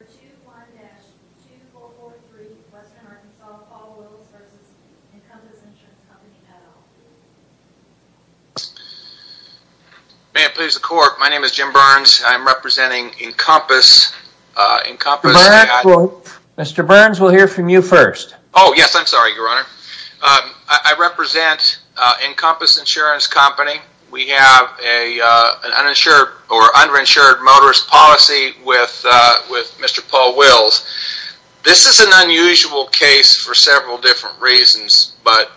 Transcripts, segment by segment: May it please the court, my name is Jim Burns, I'm representing Encompass. Mr. Burns, we'll hear from you first. Oh yes, I'm sorry your honor. I represent Encompass Insurance Company. We have an underinsured motorist policy with Mr. Paul Wills. This is an unusual case for several different reasons, but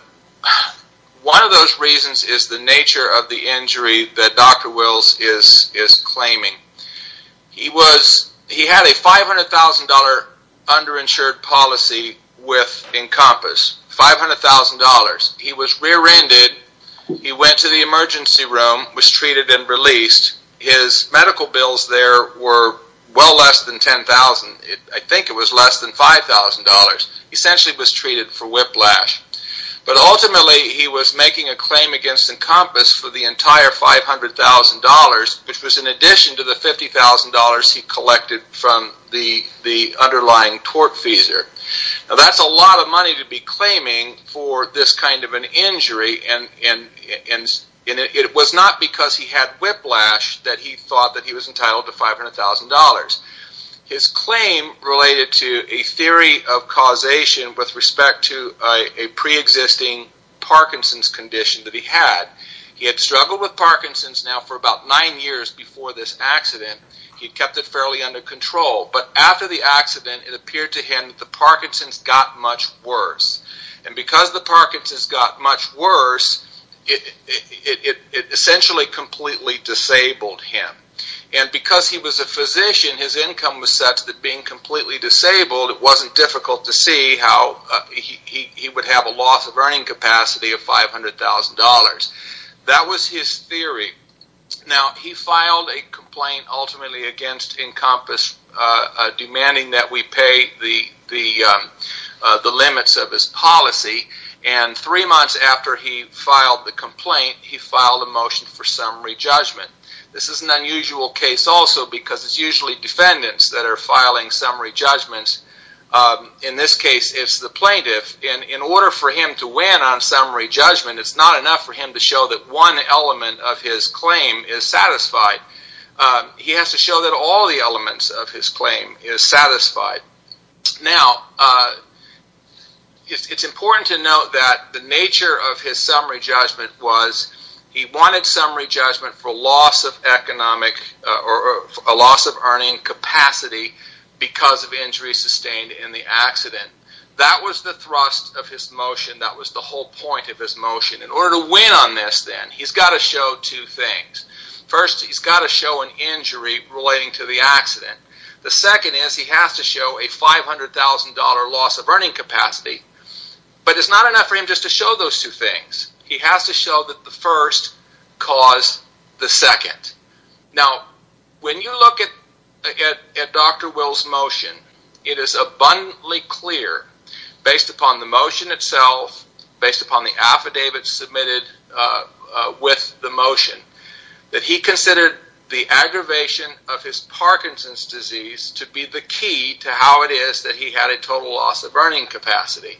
one of those reasons is the nature of the injury that Dr. Wills is claiming. He had a $500,000 underinsured policy with Encompass, $500,000. He was rear-ended, he went to the emergency room, was treated and released. His medical bills there were well less than $10,000, I think it was less than $5,000. He essentially was treated for whiplash, but ultimately he was making a claim against Encompass for the entire $500,000, which was in addition to the $50,000 he collected from the underlying tort fees. Now that's a lot of money to be claiming for this kind of an injury, and it was not because he had whiplash that he thought he was entitled to $500,000. His claim related to a theory of causation with respect to a pre-existing Parkinson's condition that he had. He had struggled with Parkinson's now for about nine years before this accident. He kept it fairly under control, but after the accident it appeared to him that the Parkinson's got much worse. Because the Parkinson's got much worse, it essentially completely disabled him. Because he was a physician, his income was such that being completely disabled, it wasn't difficult to see how he would have a loss of earning capacity of $500,000. That was his theory. Now, he filed a complaint ultimately against Encompass demanding that we pay the limits of his policy, and three months after he filed the complaint, he filed a motion for summary judgment. This is an unusual case also because it's usually defendants that are filing summary judgments. In this case, it's the plaintiff. In order for him to win on summary judgment, it's not enough for him to show that one element of his claim is satisfied. He has to show that all the elements of his claim is satisfied. Now, it's important to note that the nature of his summary judgment was he wanted summary judgment for loss of earning capacity because of injuries sustained in the accident. That was the thrust of his motion. That was the whole point of his motion. In order to win on this then, he's got to show two things. First, he's got to show an injury relating to the accident. The second is he has to show a $500,000 loss of earning capacity, but it's not enough for him just to show those two things. He has to show that the first caused the second. Now, when you look at Dr. Will's motion, it is abundantly clear based upon the motion itself, based upon the affidavit submitted with the motion, that he considered the aggravation of his Parkinson's disease to be the key to how it is that he had a total loss of earning capacity.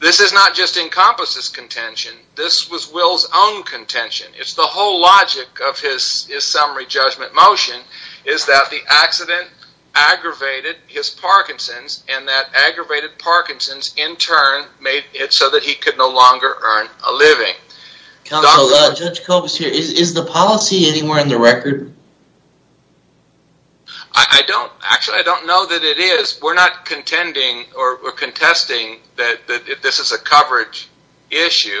This does not just encompass his contention. This was Will's own contention. It's the whole logic of his summary judgment motion is that the accident aggravated his make it so that he could no longer earn a living. Counselor, Judge Kobus here, is the policy anywhere in the record? I don't, actually I don't know that it is. We're not contending or contesting that this is a coverage issue.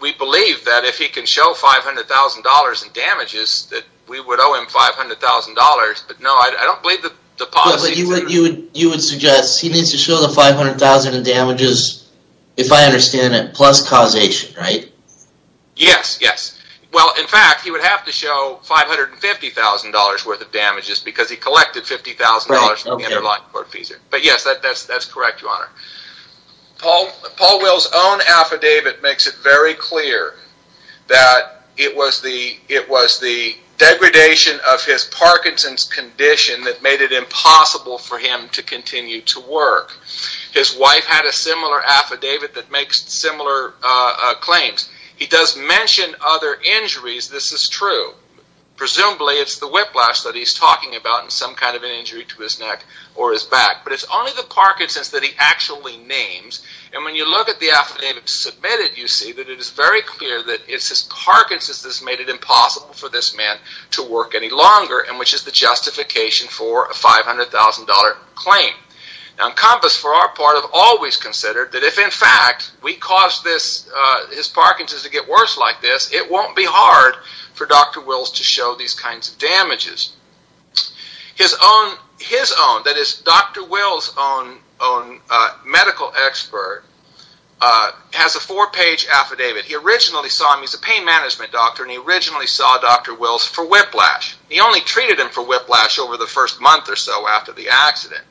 We believe that if he can show $500,000 in damages, that we would owe him $500,000, but no, I don't believe that the policy. You would suggest he needs to show the $500,000 in damages, if I understand it, plus causation, right? Yes, yes. Well, in fact, he would have to show $550,000 worth of damages because he collected $50,000 from the underlying court fees. But yes, that's correct, Your Honor. Paul Will's own affidavit makes it very clear that it was the degradation of his Parkinson's condition that made it impossible for him to continue to work. His wife had a similar affidavit that makes similar claims. He does mention other injuries, this is true. Presumably it's the whiplash that he's talking about and some kind of an injury to his neck or his back, but it's only the Parkinson's that he actually names, and when you look at the affidavit submitted, you see that it is very clear that it's his Parkinson's that made it impossible for this man to work any longer, which is the justification for a $500,000 claim. Now, Compass, for our part, have always considered that if, in fact, we cause his Parkinson's to get worse like this, it won't be hard for Dr. Wills to show these kinds of damages. His own, that is Dr. Wills' own medical expert, has a four-page affidavit. He originally saw him, he's a pain management doctor, and he originally saw Dr. Wills for whiplash. He only treated him for whiplash over the first month or so after the accident,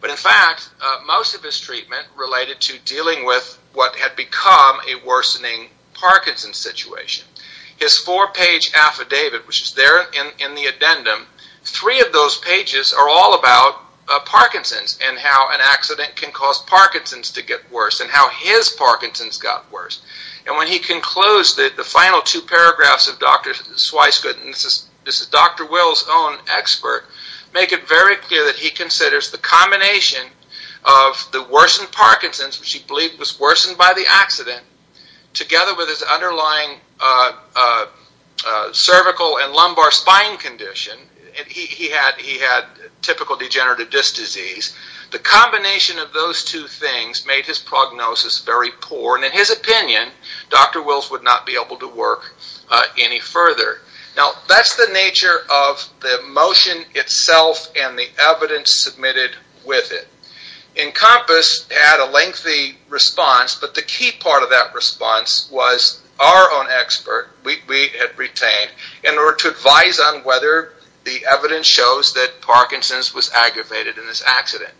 but in fact, most of his treatment related to dealing with what had become a worsening Parkinson's situation. His four-page affidavit, which is there in the addendum, three of those pages are all about Parkinson's and how an accident can cause Parkinson's to get worse and how his Parkinson's got worse. When he concludes the final two paragraphs of Dr. Swyscott, and this is Dr. Wills' own expert, make it very clear that he considers the combination of the worsened Parkinson's, which he believed was worsened by the accident, together with his underlying cervical and lumbar spine condition, and he had typical degenerative disc disease, the combination of those two things made his prognosis very poor. In his opinion, Dr. Wills would not be able to work any further. That's the nature of the motion itself and the evidence submitted with it. Encompass had a lengthy response, but the key part of that response was our own expert, we had retained, in order to advise on whether the evidence shows that Parkinson's was aggravated in this accident.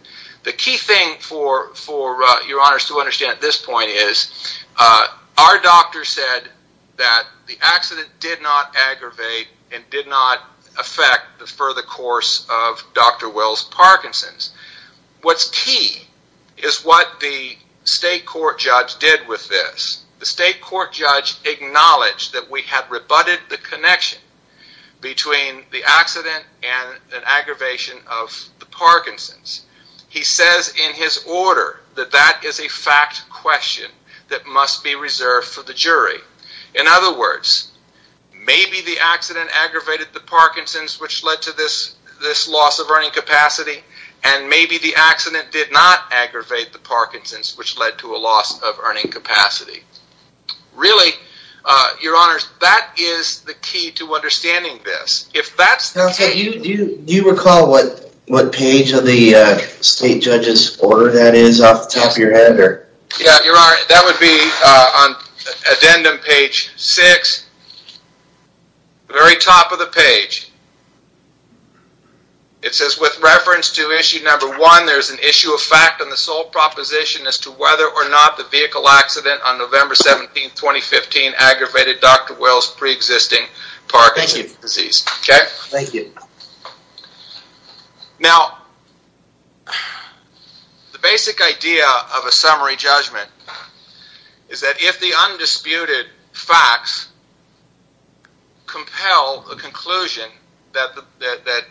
The key thing for your honors to understand at this point is our doctor said that the accident did not aggravate and did not affect the further course of Dr. Wills' Parkinson's. What's key is what the state court judge did with this. The state court judge acknowledged that we had rebutted the connection between the accident and an aggravation of the Parkinson's. He says in his order that that is a fact question that must be reserved for the jury. In other words, maybe the accident aggravated the Parkinson's, which led to this loss of earning capacity, and maybe the accident did not aggravate the Parkinson's, which led to a loss of earning capacity. Really, your honors, that is the key to understanding this. Do you recall what page of the state judge's order that is off the top of your head? Yeah, your honor, that would be on addendum page six, the very top of the page. It says with reference to issue number one, there's an issue of fact on the sole proposition as to whether or not the vehicle accident on November 17, 2015 aggravated Dr. Wills' pre-existing Parkinson's disease. Thank you. Now, the basic idea of a summary judgment is that if the undisputed facts compel a conclusion that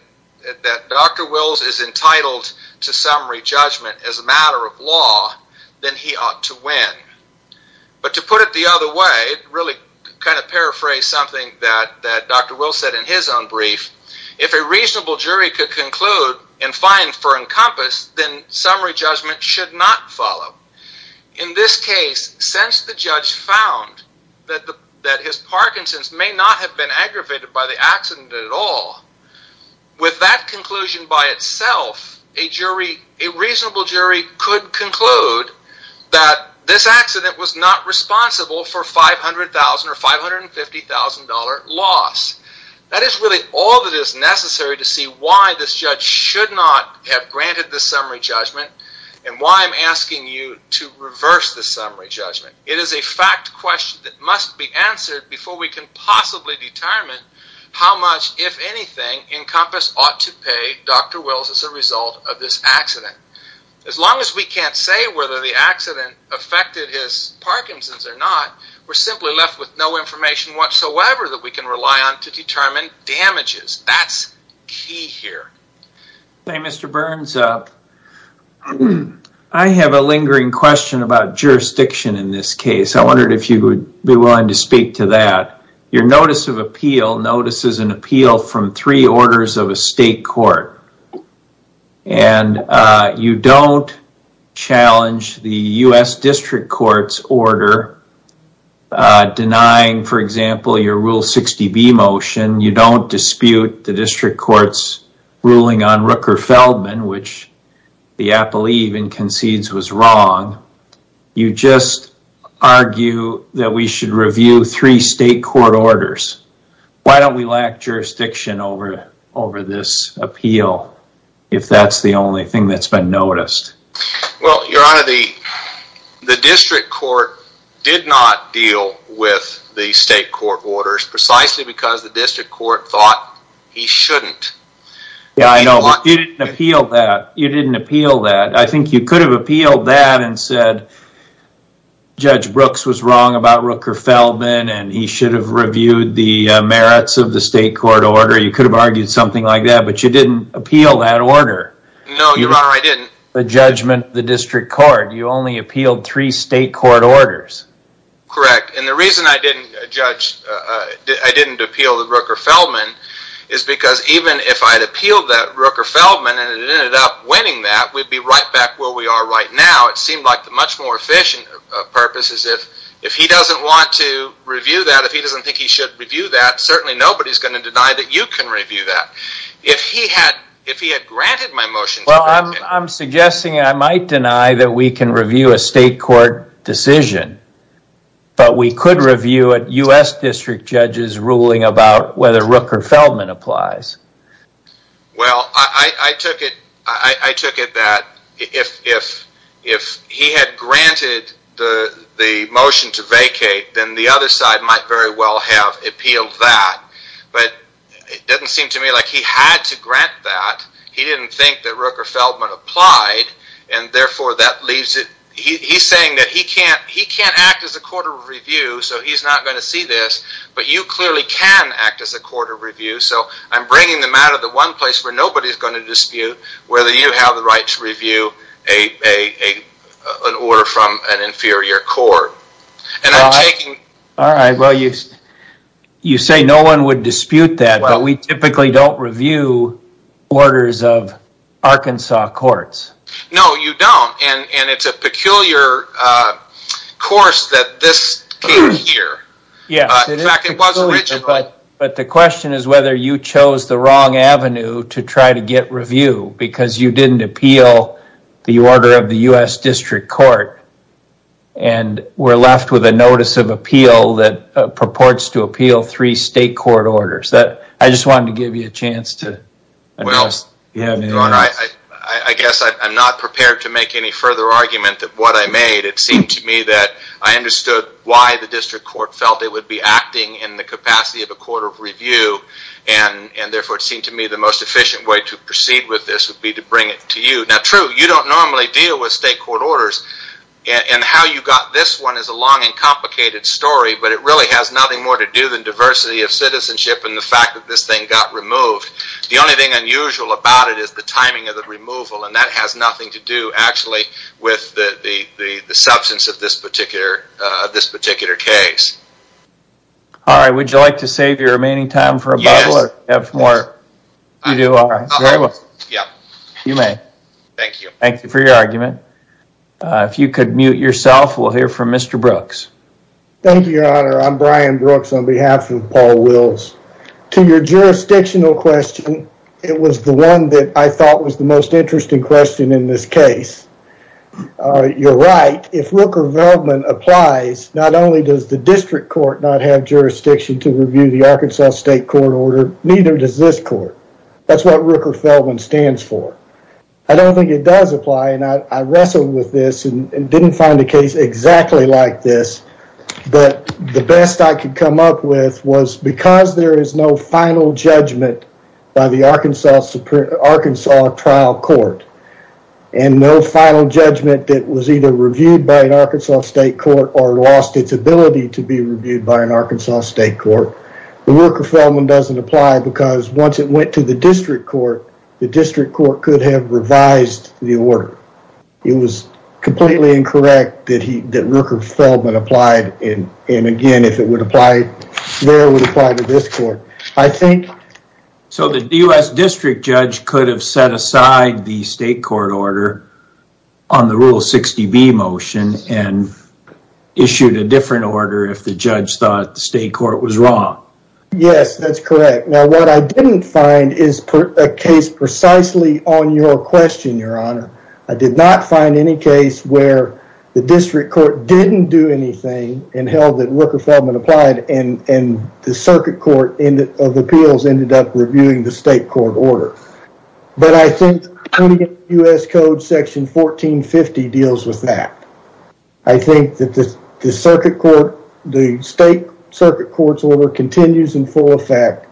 Dr. Wills is entitled to summary judgment as a matter of law, then he ought to win. But to put it the other way, really kind of paraphrase something that Dr. Wills said in his own brief, if a reasonable jury could conclude and find for encompass, then summary judgment should not follow. In this case, since the judge found that his Parkinson's may not have been aggravated by the accident at all, with that conclusion by itself, a reasonable jury could conclude that this accident was not responsible for $500,000 or $550,000 loss. That is really all that is necessary to see why this judge should not have granted the summary judgment and why I'm asking you to reverse the summary judgment. It is a fact question that must be answered before we can possibly determine how much, if anything, encompass ought to pay Dr. Wills as a result of this accident. As long as we can't say whether the accident affected his Parkinson's or not, we're simply left with no information whatsoever that we can rely on to determine damages. That's key here. Hey, Mr. Burns, I have a lingering question about jurisdiction in this case. I wondered if you would be willing to speak to that. Your notice of appeal notices an appeal from three orders of a state court. You don't challenge the U.S. District Court's order denying, for example, your Rule 60B motion. You don't dispute the District Court's ruling on Rooker-Feldman, which the apple even concedes was wrong. You just argue that we should review three state court orders. Why don't we lack jurisdiction over this appeal if that's the only thing that's been noticed? Well, your honor, the District Court did not deal with the state court orders precisely because the District Court thought he shouldn't. Yeah, I know, but you didn't appeal that. You didn't appeal that. I think you could have appealed that and said, Judge Brooks was wrong about Rooker-Feldman and he should have reviewed the merits of the state court order. You could have argued something like that, but you didn't appeal that order. No, your honor, I didn't. The judgment, the District Court, you only appealed three state court orders. Correct. The reason I didn't appeal the Rooker-Feldman is because even if I had appealed that Rooker-Feldman and it ended up winning that, we'd be right back where we are right now. It seemed like the much more efficient purpose is if he doesn't want to review that, if he doesn't think he should review that, certainly nobody's going to deny that you can review that. If he had granted my motion... Well, I'm suggesting I might deny that we can review a state court decision, but we could review a U.S. District Judge's ruling about whether Rooker-Feldman applies. Well, I took it that if he had granted the motion to vacate, then the other side might very well have appealed that, but it doesn't seem to me like he had to grant that. He didn't think that Rooker-Feldman applied, and therefore that leaves it... He's saying that he can't act as a court of review, so he's not going to see this, but you clearly can act as a court of review, so I'm bringing them out of the one place where nobody's going to dispute whether you have the right to review an order from an inferior court. I'm taking... All right. You say no one would dispute that, but we typically don't review orders of Arkansas courts. No, you don't, and it's a peculiar course that this came here. Yes, it is peculiar. In fact, it was original. But the question is whether you chose the wrong avenue to try to get review because you didn't appeal the order of the U.S. District Court, and were left with a notice of appeal that purports to appeal three state court orders. I just wanted to give you a chance to... I guess I'm not prepared to make any further argument that what I made, it seemed to me that I understood why the District Court felt it would be acting in the capacity of a court of review, and therefore it seemed to me the most efficient way to proceed with this would be to bring it to you. Now, true, you don't normally deal with state court orders, and how you got this one is a long and complicated story, but it really has nothing more to do than diversity of citizenship and the fact that this thing got removed. The only thing unusual about it is the timing of the removal, and that has nothing to do actually with the substance of this particular case. All right. Would you like to save your remaining time for a bubble or have more... Yes. You do? All right. Very well. Yep. You may. Thank you. Thank you for your argument. If you could mute yourself, we'll hear from Mr. Brooks. Thank you, Your Honor. I'm Brian Brooks on behalf of Paul Wills. To your jurisdictional question, it was the one that I thought was the most interesting question in this case. You're right. If Rooker-Feldman applies, not only does the district court not have jurisdiction to review the Arkansas state court order, neither does this court. That's what Rooker-Feldman stands for. I don't think it does apply, and I wrestled with this and didn't find a case exactly like this, but the best I could come up with was because there is no final judgment by the Arkansas trial court, and no final judgment that was either reviewed by an Arkansas state court or lost its ability to be reviewed by an Arkansas state court, the Rooker-Feldman doesn't apply because once it went to the district court, the district court could have revised the order. It was completely incorrect that Rooker-Feldman applied, and again, if it would apply there, it would apply to this court. I think... So, the U.S. district judge could have set aside the state court order on the Rule 60B motion and issued a different order if the judge thought the state court was wrong. Yes, that's correct. Now, what I didn't find is a case precisely on your question, Your Honor. I did not find any case where the district court didn't do anything and held that Rooker-Feldman applied, and the circuit court of appeals ended up reviewing the state court order. But I think the county U.S. code section 1450 deals with that. I think that the state circuit court's order continues in full effect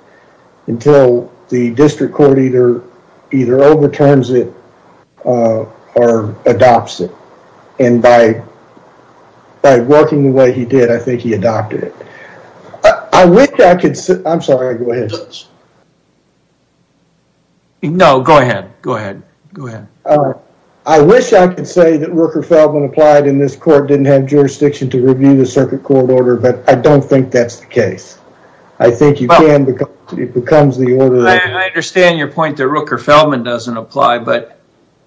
until the district court either overturns it or adopts it, and by working the way he did, I think he adopted it. I wish I could... I'm sorry. Go ahead. No, go ahead. Go ahead. Go ahead. All right. I wish I could say that Rooker-Feldman applied and this court didn't have jurisdiction to review the circuit court order, but I don't think that's the case. I think you can because it becomes the order that... I understand your point that Rooker-Feldman doesn't apply, but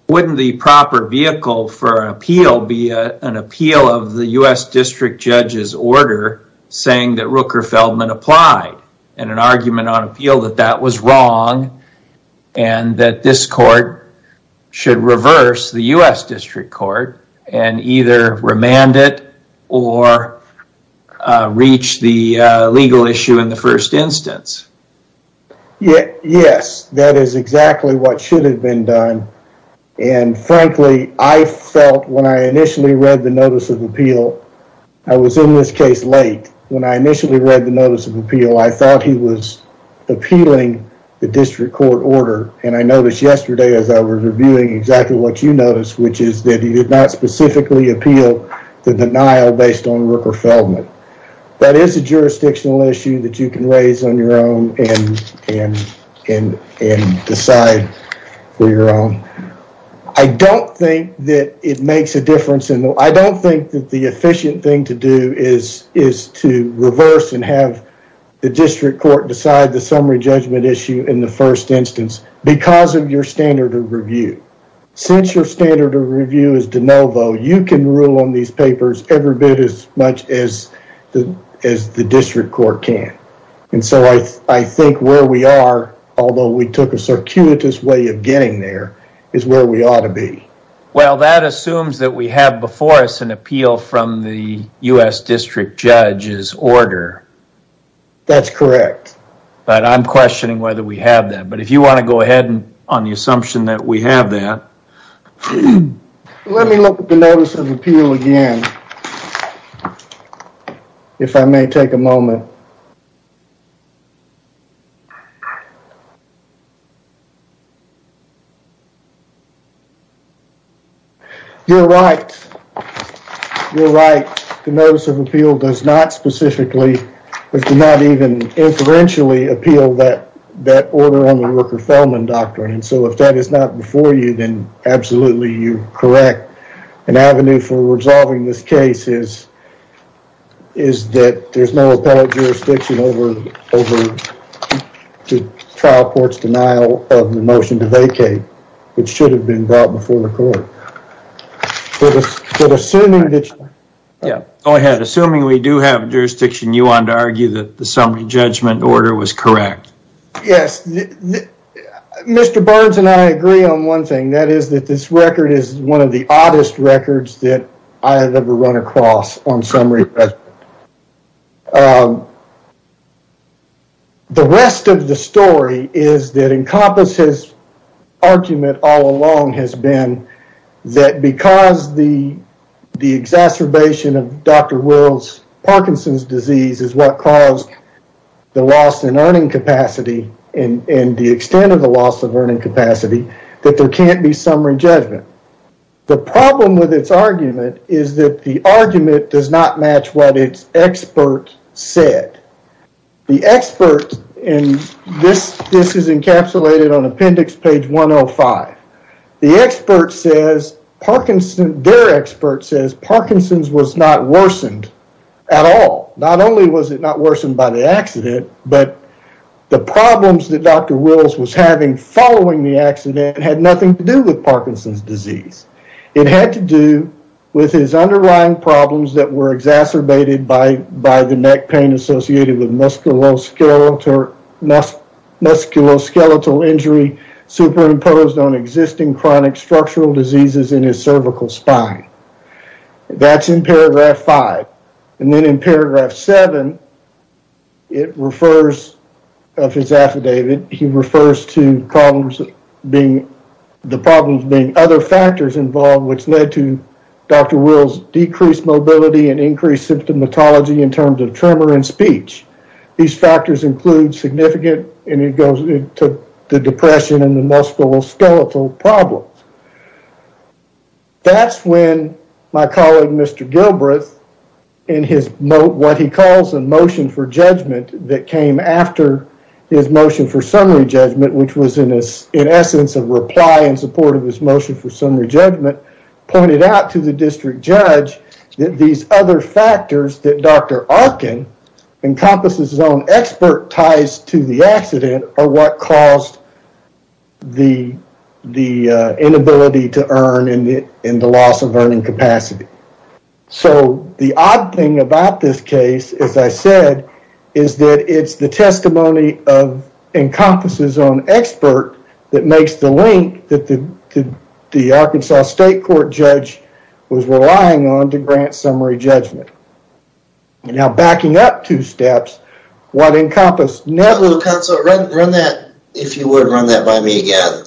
wouldn't the proper vehicle for an appeal be an appeal of the U.S. district judge's order saying that Rooker-Feldman applied and an argument on appeal that that was wrong and that this court should reverse the U.S. district court and either remand it or reach the legal issue in the first instance? Yes. That is exactly what should have been done. Frankly, I felt when I initially read the notice of appeal, I was in this case late. When I initially read the notice of appeal, I thought he was appealing the district court order. I noticed yesterday as I was reviewing exactly what you noticed, which is that he did not specifically appeal the denial based on Rooker-Feldman. That is a jurisdictional issue that you can raise on your own and decide for your own. I don't think that it makes a difference. I don't think that the efficient thing to do is to reverse and have the district court decide the summary judgment issue in the first instance because of your standard of review. Since your standard of review is de novo, you can rule on these papers every bit as much as the district court can. I think where we are, although we took a circuitous way of getting there, is where we ought to be. Well, that assumes that we have before us an appeal from the U.S. district judge's order. That's correct. I'm questioning whether we have that. If you want to go ahead on the assumption that we have that. Let me look at the notice of appeal again, if I may take a moment. You're right. You're right. The notice of appeal does not even inferentially appeal that order on the Rooker-Feldman doctrine. If that is not before you, then absolutely you're correct. An avenue for resolving this case is that there's no appellate jurisdiction over the trial court's denial of the motion to vacate. It should have been brought before the court. Assuming that you... Go ahead. Assuming we do have jurisdiction, you want to argue that the summary judgment order was correct? Yes. Mr. Burns and I agree on one thing. That is that this record is one of the oddest records that I have ever run across on summary judgment. The rest of the story is that Encompass's argument all along has been that because the exacerbation of Dr. Wills Parkinson's disease is what caused the loss in earning capacity and the extent of the loss of earning capacity, that there can't be summary judgment. The problem with its argument is that the argument does not match what its expert said. The expert, and this is encapsulated on appendix page 105. The expert says Parkinson's... Their expert says Parkinson's was not worsened at all. Not only was it not worsened by the accident, but the problems that Dr. Wills was having following the accident had nothing to do with Parkinson's disease. It had to do with his underlying problems that were exacerbated by the neck pain associated with musculoskeletal injury superimposed on existing chronic structural diseases in his cervical spine. That's in paragraph five. And then in paragraph seven, it refers of his affidavit, he refers to the problems being other factors involved which led to Dr. Wills decreased mobility and increased symptomatology in terms of tremor and speech. These factors include significant, and it goes into the depression and the musculoskeletal problems. That's when my colleague, Mr. Gilbreth, in what he calls a motion for judgment that came after his motion for summary judgment, which was in essence a reply in support of his motion for summary judgment, pointed out to the district judge that these other factors that Dr. Arkin encompasses his own expert ties to the accident are what caused the inability to earn and the loss of earning capacity. So the odd thing about this case, as I said, is that it's the testimony of encompasses own expert that makes the link that the Arkansas state court judge was relying on to grant summary judgment. Now, backing up two steps, what encompasses... Counselor, run that, if you would, run that by me again.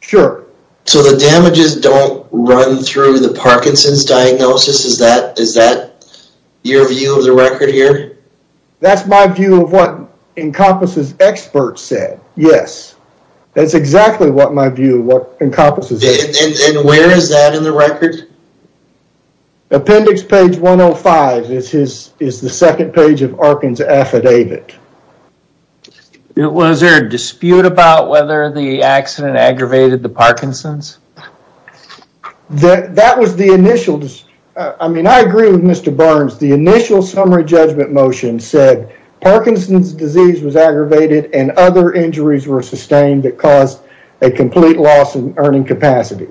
Sure. So the damages don't run through the Parkinson's diagnosis, is that your view of the record here? That's my view of what encompasses expert said, yes. That's exactly what my view of what encompasses expert said. And where is that in the record? Appendix page 105 is the second page of Arkin's affidavit. Was there a dispute about whether the accident aggravated the Parkinson's? That was the initial... I mean, I agree with Mr. Burns. The initial summary judgment motion said Parkinson's disease was aggravated and other injuries were sustained that caused a complete loss in earning capacity.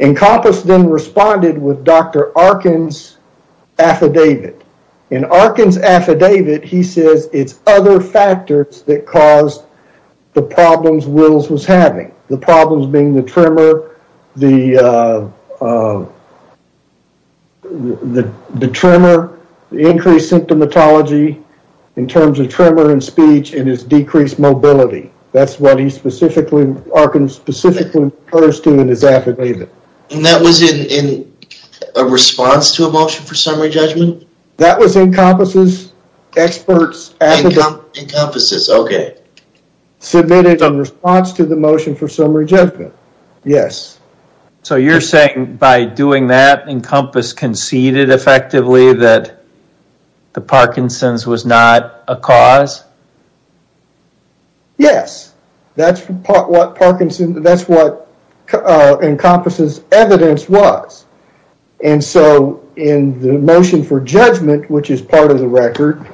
Encompass then responded with Dr. Arkin's affidavit. In Arkin's affidavit, he says it's other factors that caused the problems Wills was having. The problems being the tremor, the increased symptomatology in terms of tremor and speech and his decreased mobility. That's what Arkin specifically refers to in his affidavit. And that was in response to a motion for summary judgment? That was encompasses expert's affidavit. Encompasses, okay. Submitted in response to the motion for summary judgment, yes. So you're saying by doing that, Encompass conceded effectively that the Parkinson's was not a cause? Yes, that's what Encompass's evidence was. And so in the motion for judgment, which is part of the record,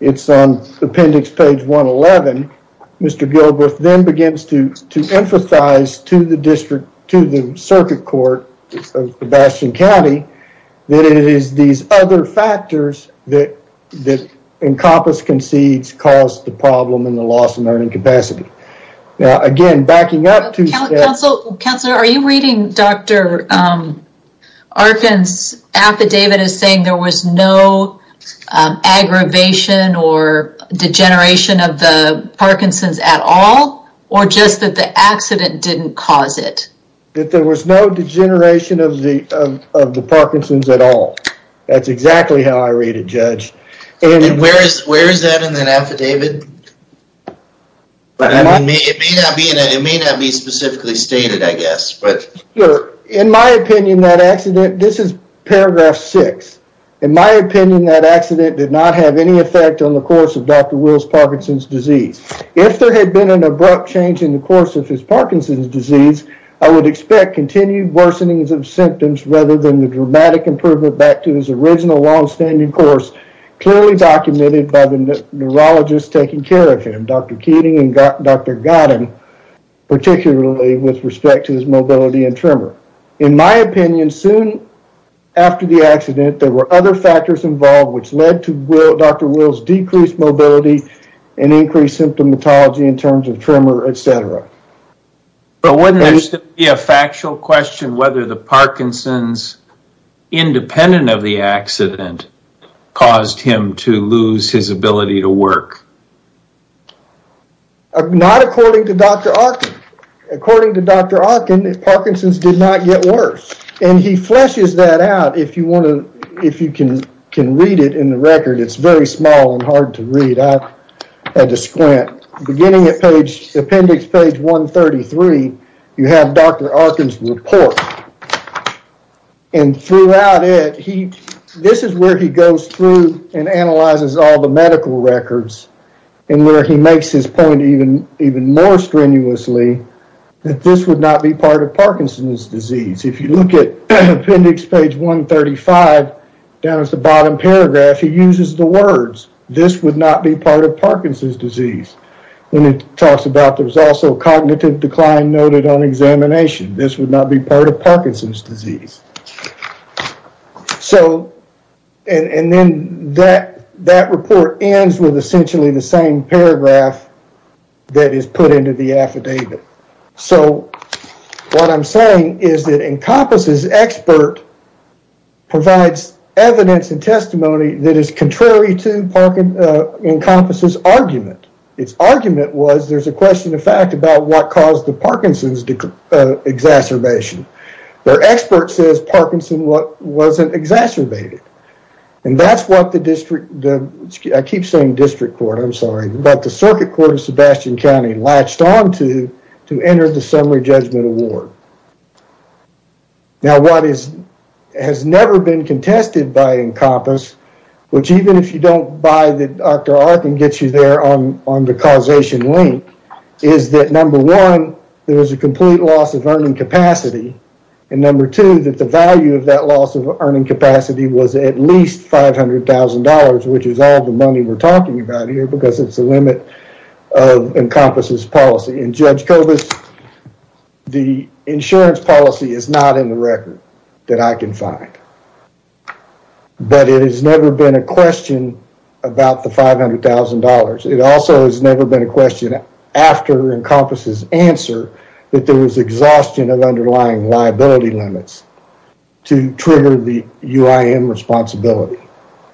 it's on appendix page 111. Mr. Gilbreth then begins to emphasize to the district, to the circuit court of the Bastion County that it is these other factors that Encompass concedes caused the problem and the loss of learning capacity. Now again, backing up to- Counselor, are you reading Dr. Arkin's affidavit as saying there was no aggravation or degeneration of the Parkinson's at all? Or just that the accident didn't cause it? That there was no degeneration of the Parkinson's at all. That's exactly how I read it, Judge. And where is that in that affidavit? It may not be specifically stated, I guess. In my opinion, that accident, this is paragraph six. In my opinion, that accident did not have any effect on the course of Dr. Will's Parkinson's disease. If there had been an abrupt change in the course of his Parkinson's disease, I would expect continued worsenings of symptoms rather than the dramatic improvement back to his original long-standing course clearly documented by the neurologist taking care of him, Dr. Keating and Dr. Godden, particularly with respect to his mobility and tremor. In my opinion, soon after the accident, there were other factors involved which led to Dr. Will's decreased mobility and increased symptomatology in terms of tremor, etc. But wouldn't there still be a factual question whether the Parkinson's, independent of the accident, caused him to lose his ability to work? Not according to Dr. Arkin. According to Dr. Arkin, Parkinson's did not get worse. And he fleshes that out if you can read it in the record. It's very small and hard to read. I had to squint. Beginning at appendix page 133, you have Dr. Arkin's report. And throughout it, this is where he goes through and analyzes all the medical records and where he makes his point even more strenuously that this would not be part of Parkinson's disease. If you look at appendix page 135, down at the bottom paragraph, he uses the words, this would not be part of Parkinson's disease. When he talks about there was also cognitive decline noted on examination. This would not be part of Parkinson's disease. And then that report ends with essentially the same paragraph that is put into the affidavit. So what I'm saying is that Encompass's expert provides evidence and testimony that is contrary to Encompass's argument. Its argument was there's a question of fact about what caused the Parkinson's exacerbation. Their expert says Parkinson's wasn't exacerbated. And that's what the district, I keep saying district court, I'm sorry, but the circuit court of Sebastian County latched onto to enter the summary judgment award. Now what has never been contested by Encompass, which even if you don't buy that Dr. Arkin gets you there on the causation link, is that number one, there was a complete loss of earning capacity. And number two, that the value of that loss of earning capacity was at least $500,000, which is all the money we're talking about here because it's a limit of Encompass's policy. And Judge Kobus, the insurance policy is not in the record that I can find. But it has never been a question about the $500,000. It also has never been a question after Encompass's answer that there was exhaustion of underlying liability limits to trigger the UIM responsibility.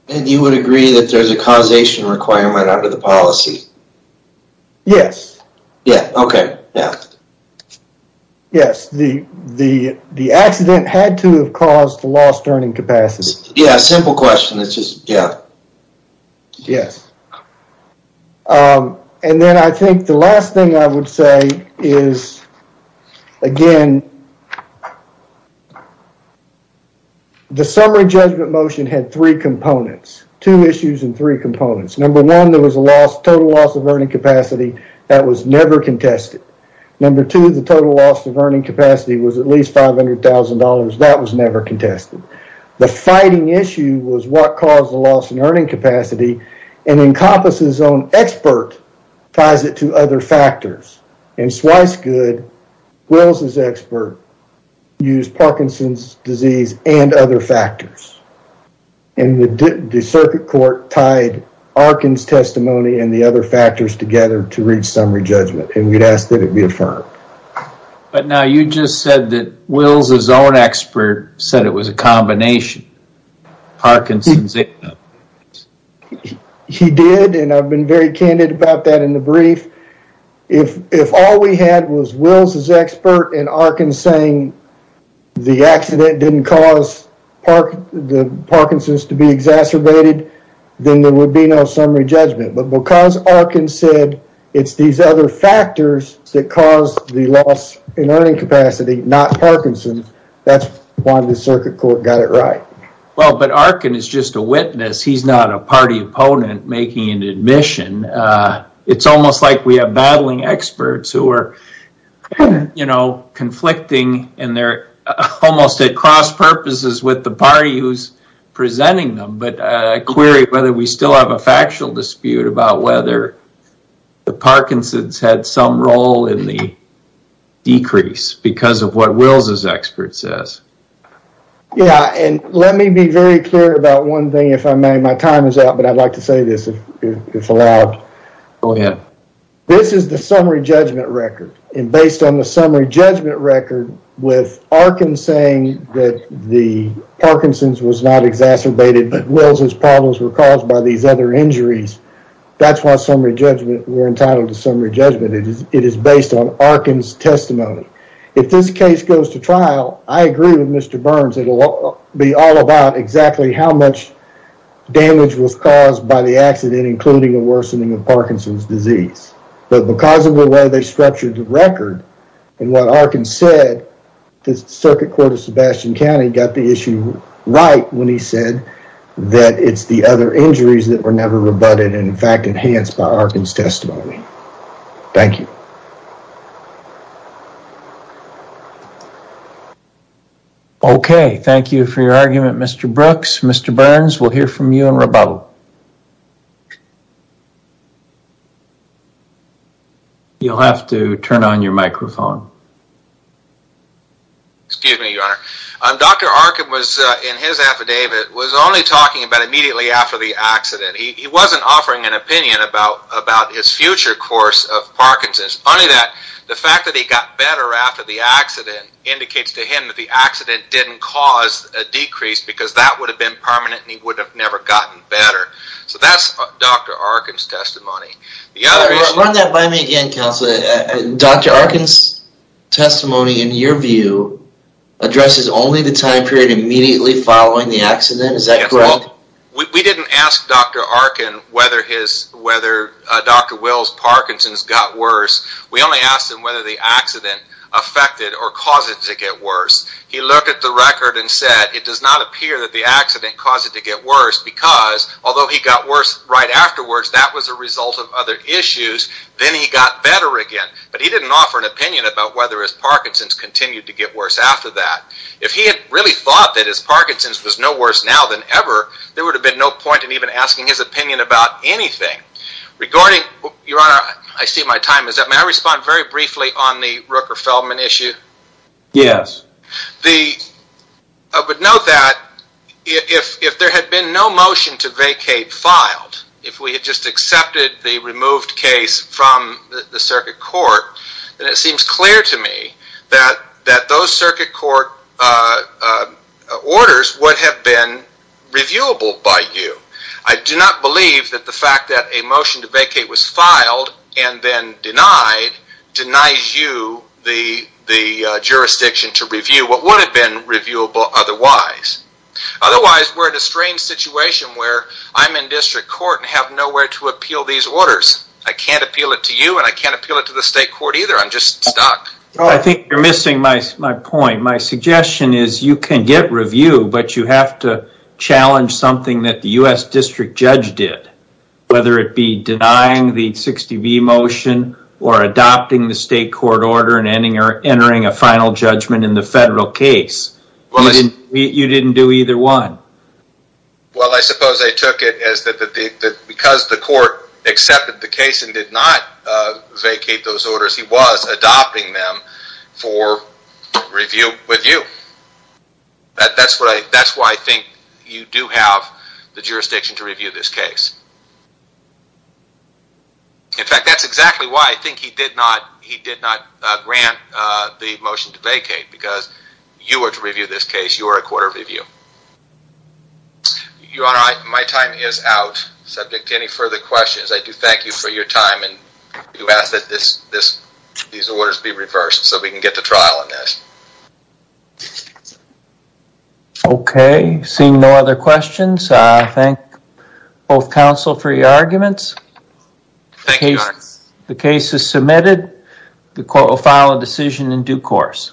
And you would agree that there's a causation requirement under the policy? Yes. Yeah, okay, yeah. Yes, the accident had to have caused the lost earning capacity. Yeah, simple question, it's just, yeah. Yes. And then I think the last thing I would say is, again, the summary judgment motion had three components, two issues and three components. Number one, there was a loss, total loss of earning capacity that was never contested. Number two, the total loss of earning capacity was at least $500,000. That was never contested. The fighting issue was what caused the loss in earning capacity and Encompass's own expert ties it to other factors. And twice good, Wills' expert used Parkinson's disease and other factors. And the circuit court tied Arkin's testimony and the other factors together to reach summary judgment, and we'd ask that it be affirmed. But now you just said that Wills' own expert said it was a combination, Parkinson's. He did, and I've been very candid about that in the brief. If all we had was Wills' expert and Arkin saying the accident didn't cause Parkinson's to be exacerbated, then there would be no summary judgment. But because Arkin said it's these other factors that caused the loss in earning capacity, not Parkinson's, that's why the circuit court got it right. Well, but Arkin is just a witness. He's not a party opponent making an admission. It's almost like we have battling experts who are conflicting and they're almost at cross purposes with the party who's presenting them. But I query whether we still have a factual dispute about whether the Parkinson's had some role in the decrease because of what Wills' expert says. Yeah, and let me be very clear about one thing, if I may. My time is up, but I'd like to say this if it's allowed. Go ahead. This is the summary judgment record. And based on the summary judgment record with Arkin saying that the Parkinson's was not exacerbated but Wills' problems were caused by these other injuries, that's why we're entitled to summary judgment. It is based on Arkin's testimony. If this case goes to trial, I agree with Mr. Burns. It'll be all about exactly how much damage was caused by the accident, including the worsening of Parkinson's disease. But because of the way they structured the record and what Arkin said, the circuit court of Sebastian County got the issue right when he said that it's the other injuries that were never rebutted and, in fact, enhanced by Arkin's testimony. Thank you. Okay. Thank you for your argument, Mr. Brooks. Mr. Burns, we'll hear from you in rebuttal. You'll have to turn on your microphone. Excuse me, Your Honor. Dr. Arkin was, in his affidavit, was only talking about immediately after the accident. He wasn't offering an opinion about his future course of Parkinson's. Funny that the fact that he got better after the accident indicates to him that the accident didn't cause a decrease because that would have been permanent and he would have never gotten better. So that's Dr. Arkin's testimony. Run that by me again, Counselor. Dr. Arkin's testimony, in your view, addresses only the time period immediately following the accident? Is that correct? Well, we didn't ask Dr. Arkin whether Dr. Will's Parkinson's got worse. We only asked him whether the accident affected or caused it to get worse. He looked at the record and said, it does not appear that the accident caused it to get worse because, although he got worse right afterwards, that was a result of other issues. Then he got better again. But he didn't offer an opinion about whether his Parkinson's continued to get worse after that. If he had really thought that his Parkinson's was no worse now than ever, there would have been no point in even asking his opinion about anything. Your Honor, I see my time is up. May I respond very briefly on the Rooker-Feldman issue? Yes. I would note that if there had been no motion to vacate filed, if we had just accepted the removed case from the circuit court, then it seems clear to me that those circuit court orders would have been reviewable by you. I do not believe that the fact that a motion to vacate was filed and then denied, denies you the jurisdiction to review what would have been reviewable otherwise. Otherwise, we're in a strange situation where I'm in district court and have nowhere to appeal these orders. I can't appeal it to you and I can't appeal it to the state court either. I'm just stuck. I think you're missing my point. My suggestion is you can get review, but you have to challenge something that the U.S. district judge did. Whether it be denying the 60B motion or adopting the state court order and entering a final judgment in the federal case. You didn't do either one. Well, I suppose I took it as that because the court accepted the case and did not vacate those orders, he was adopting them for review with you. That's why I think you do have the jurisdiction to review this case. In fact, that's exactly why I think he did not grant the motion to vacate because you are to review this case. You are a court of review. Your Honor, my time is out. Subject to any further questions, I do thank you for your time. You asked that these orders be reversed so we can get to trial on this. Okay, seeing no other questions, I thank both counsel for your arguments. Thank you, Your Honor. The case is submitted. The court will file a decision in due course.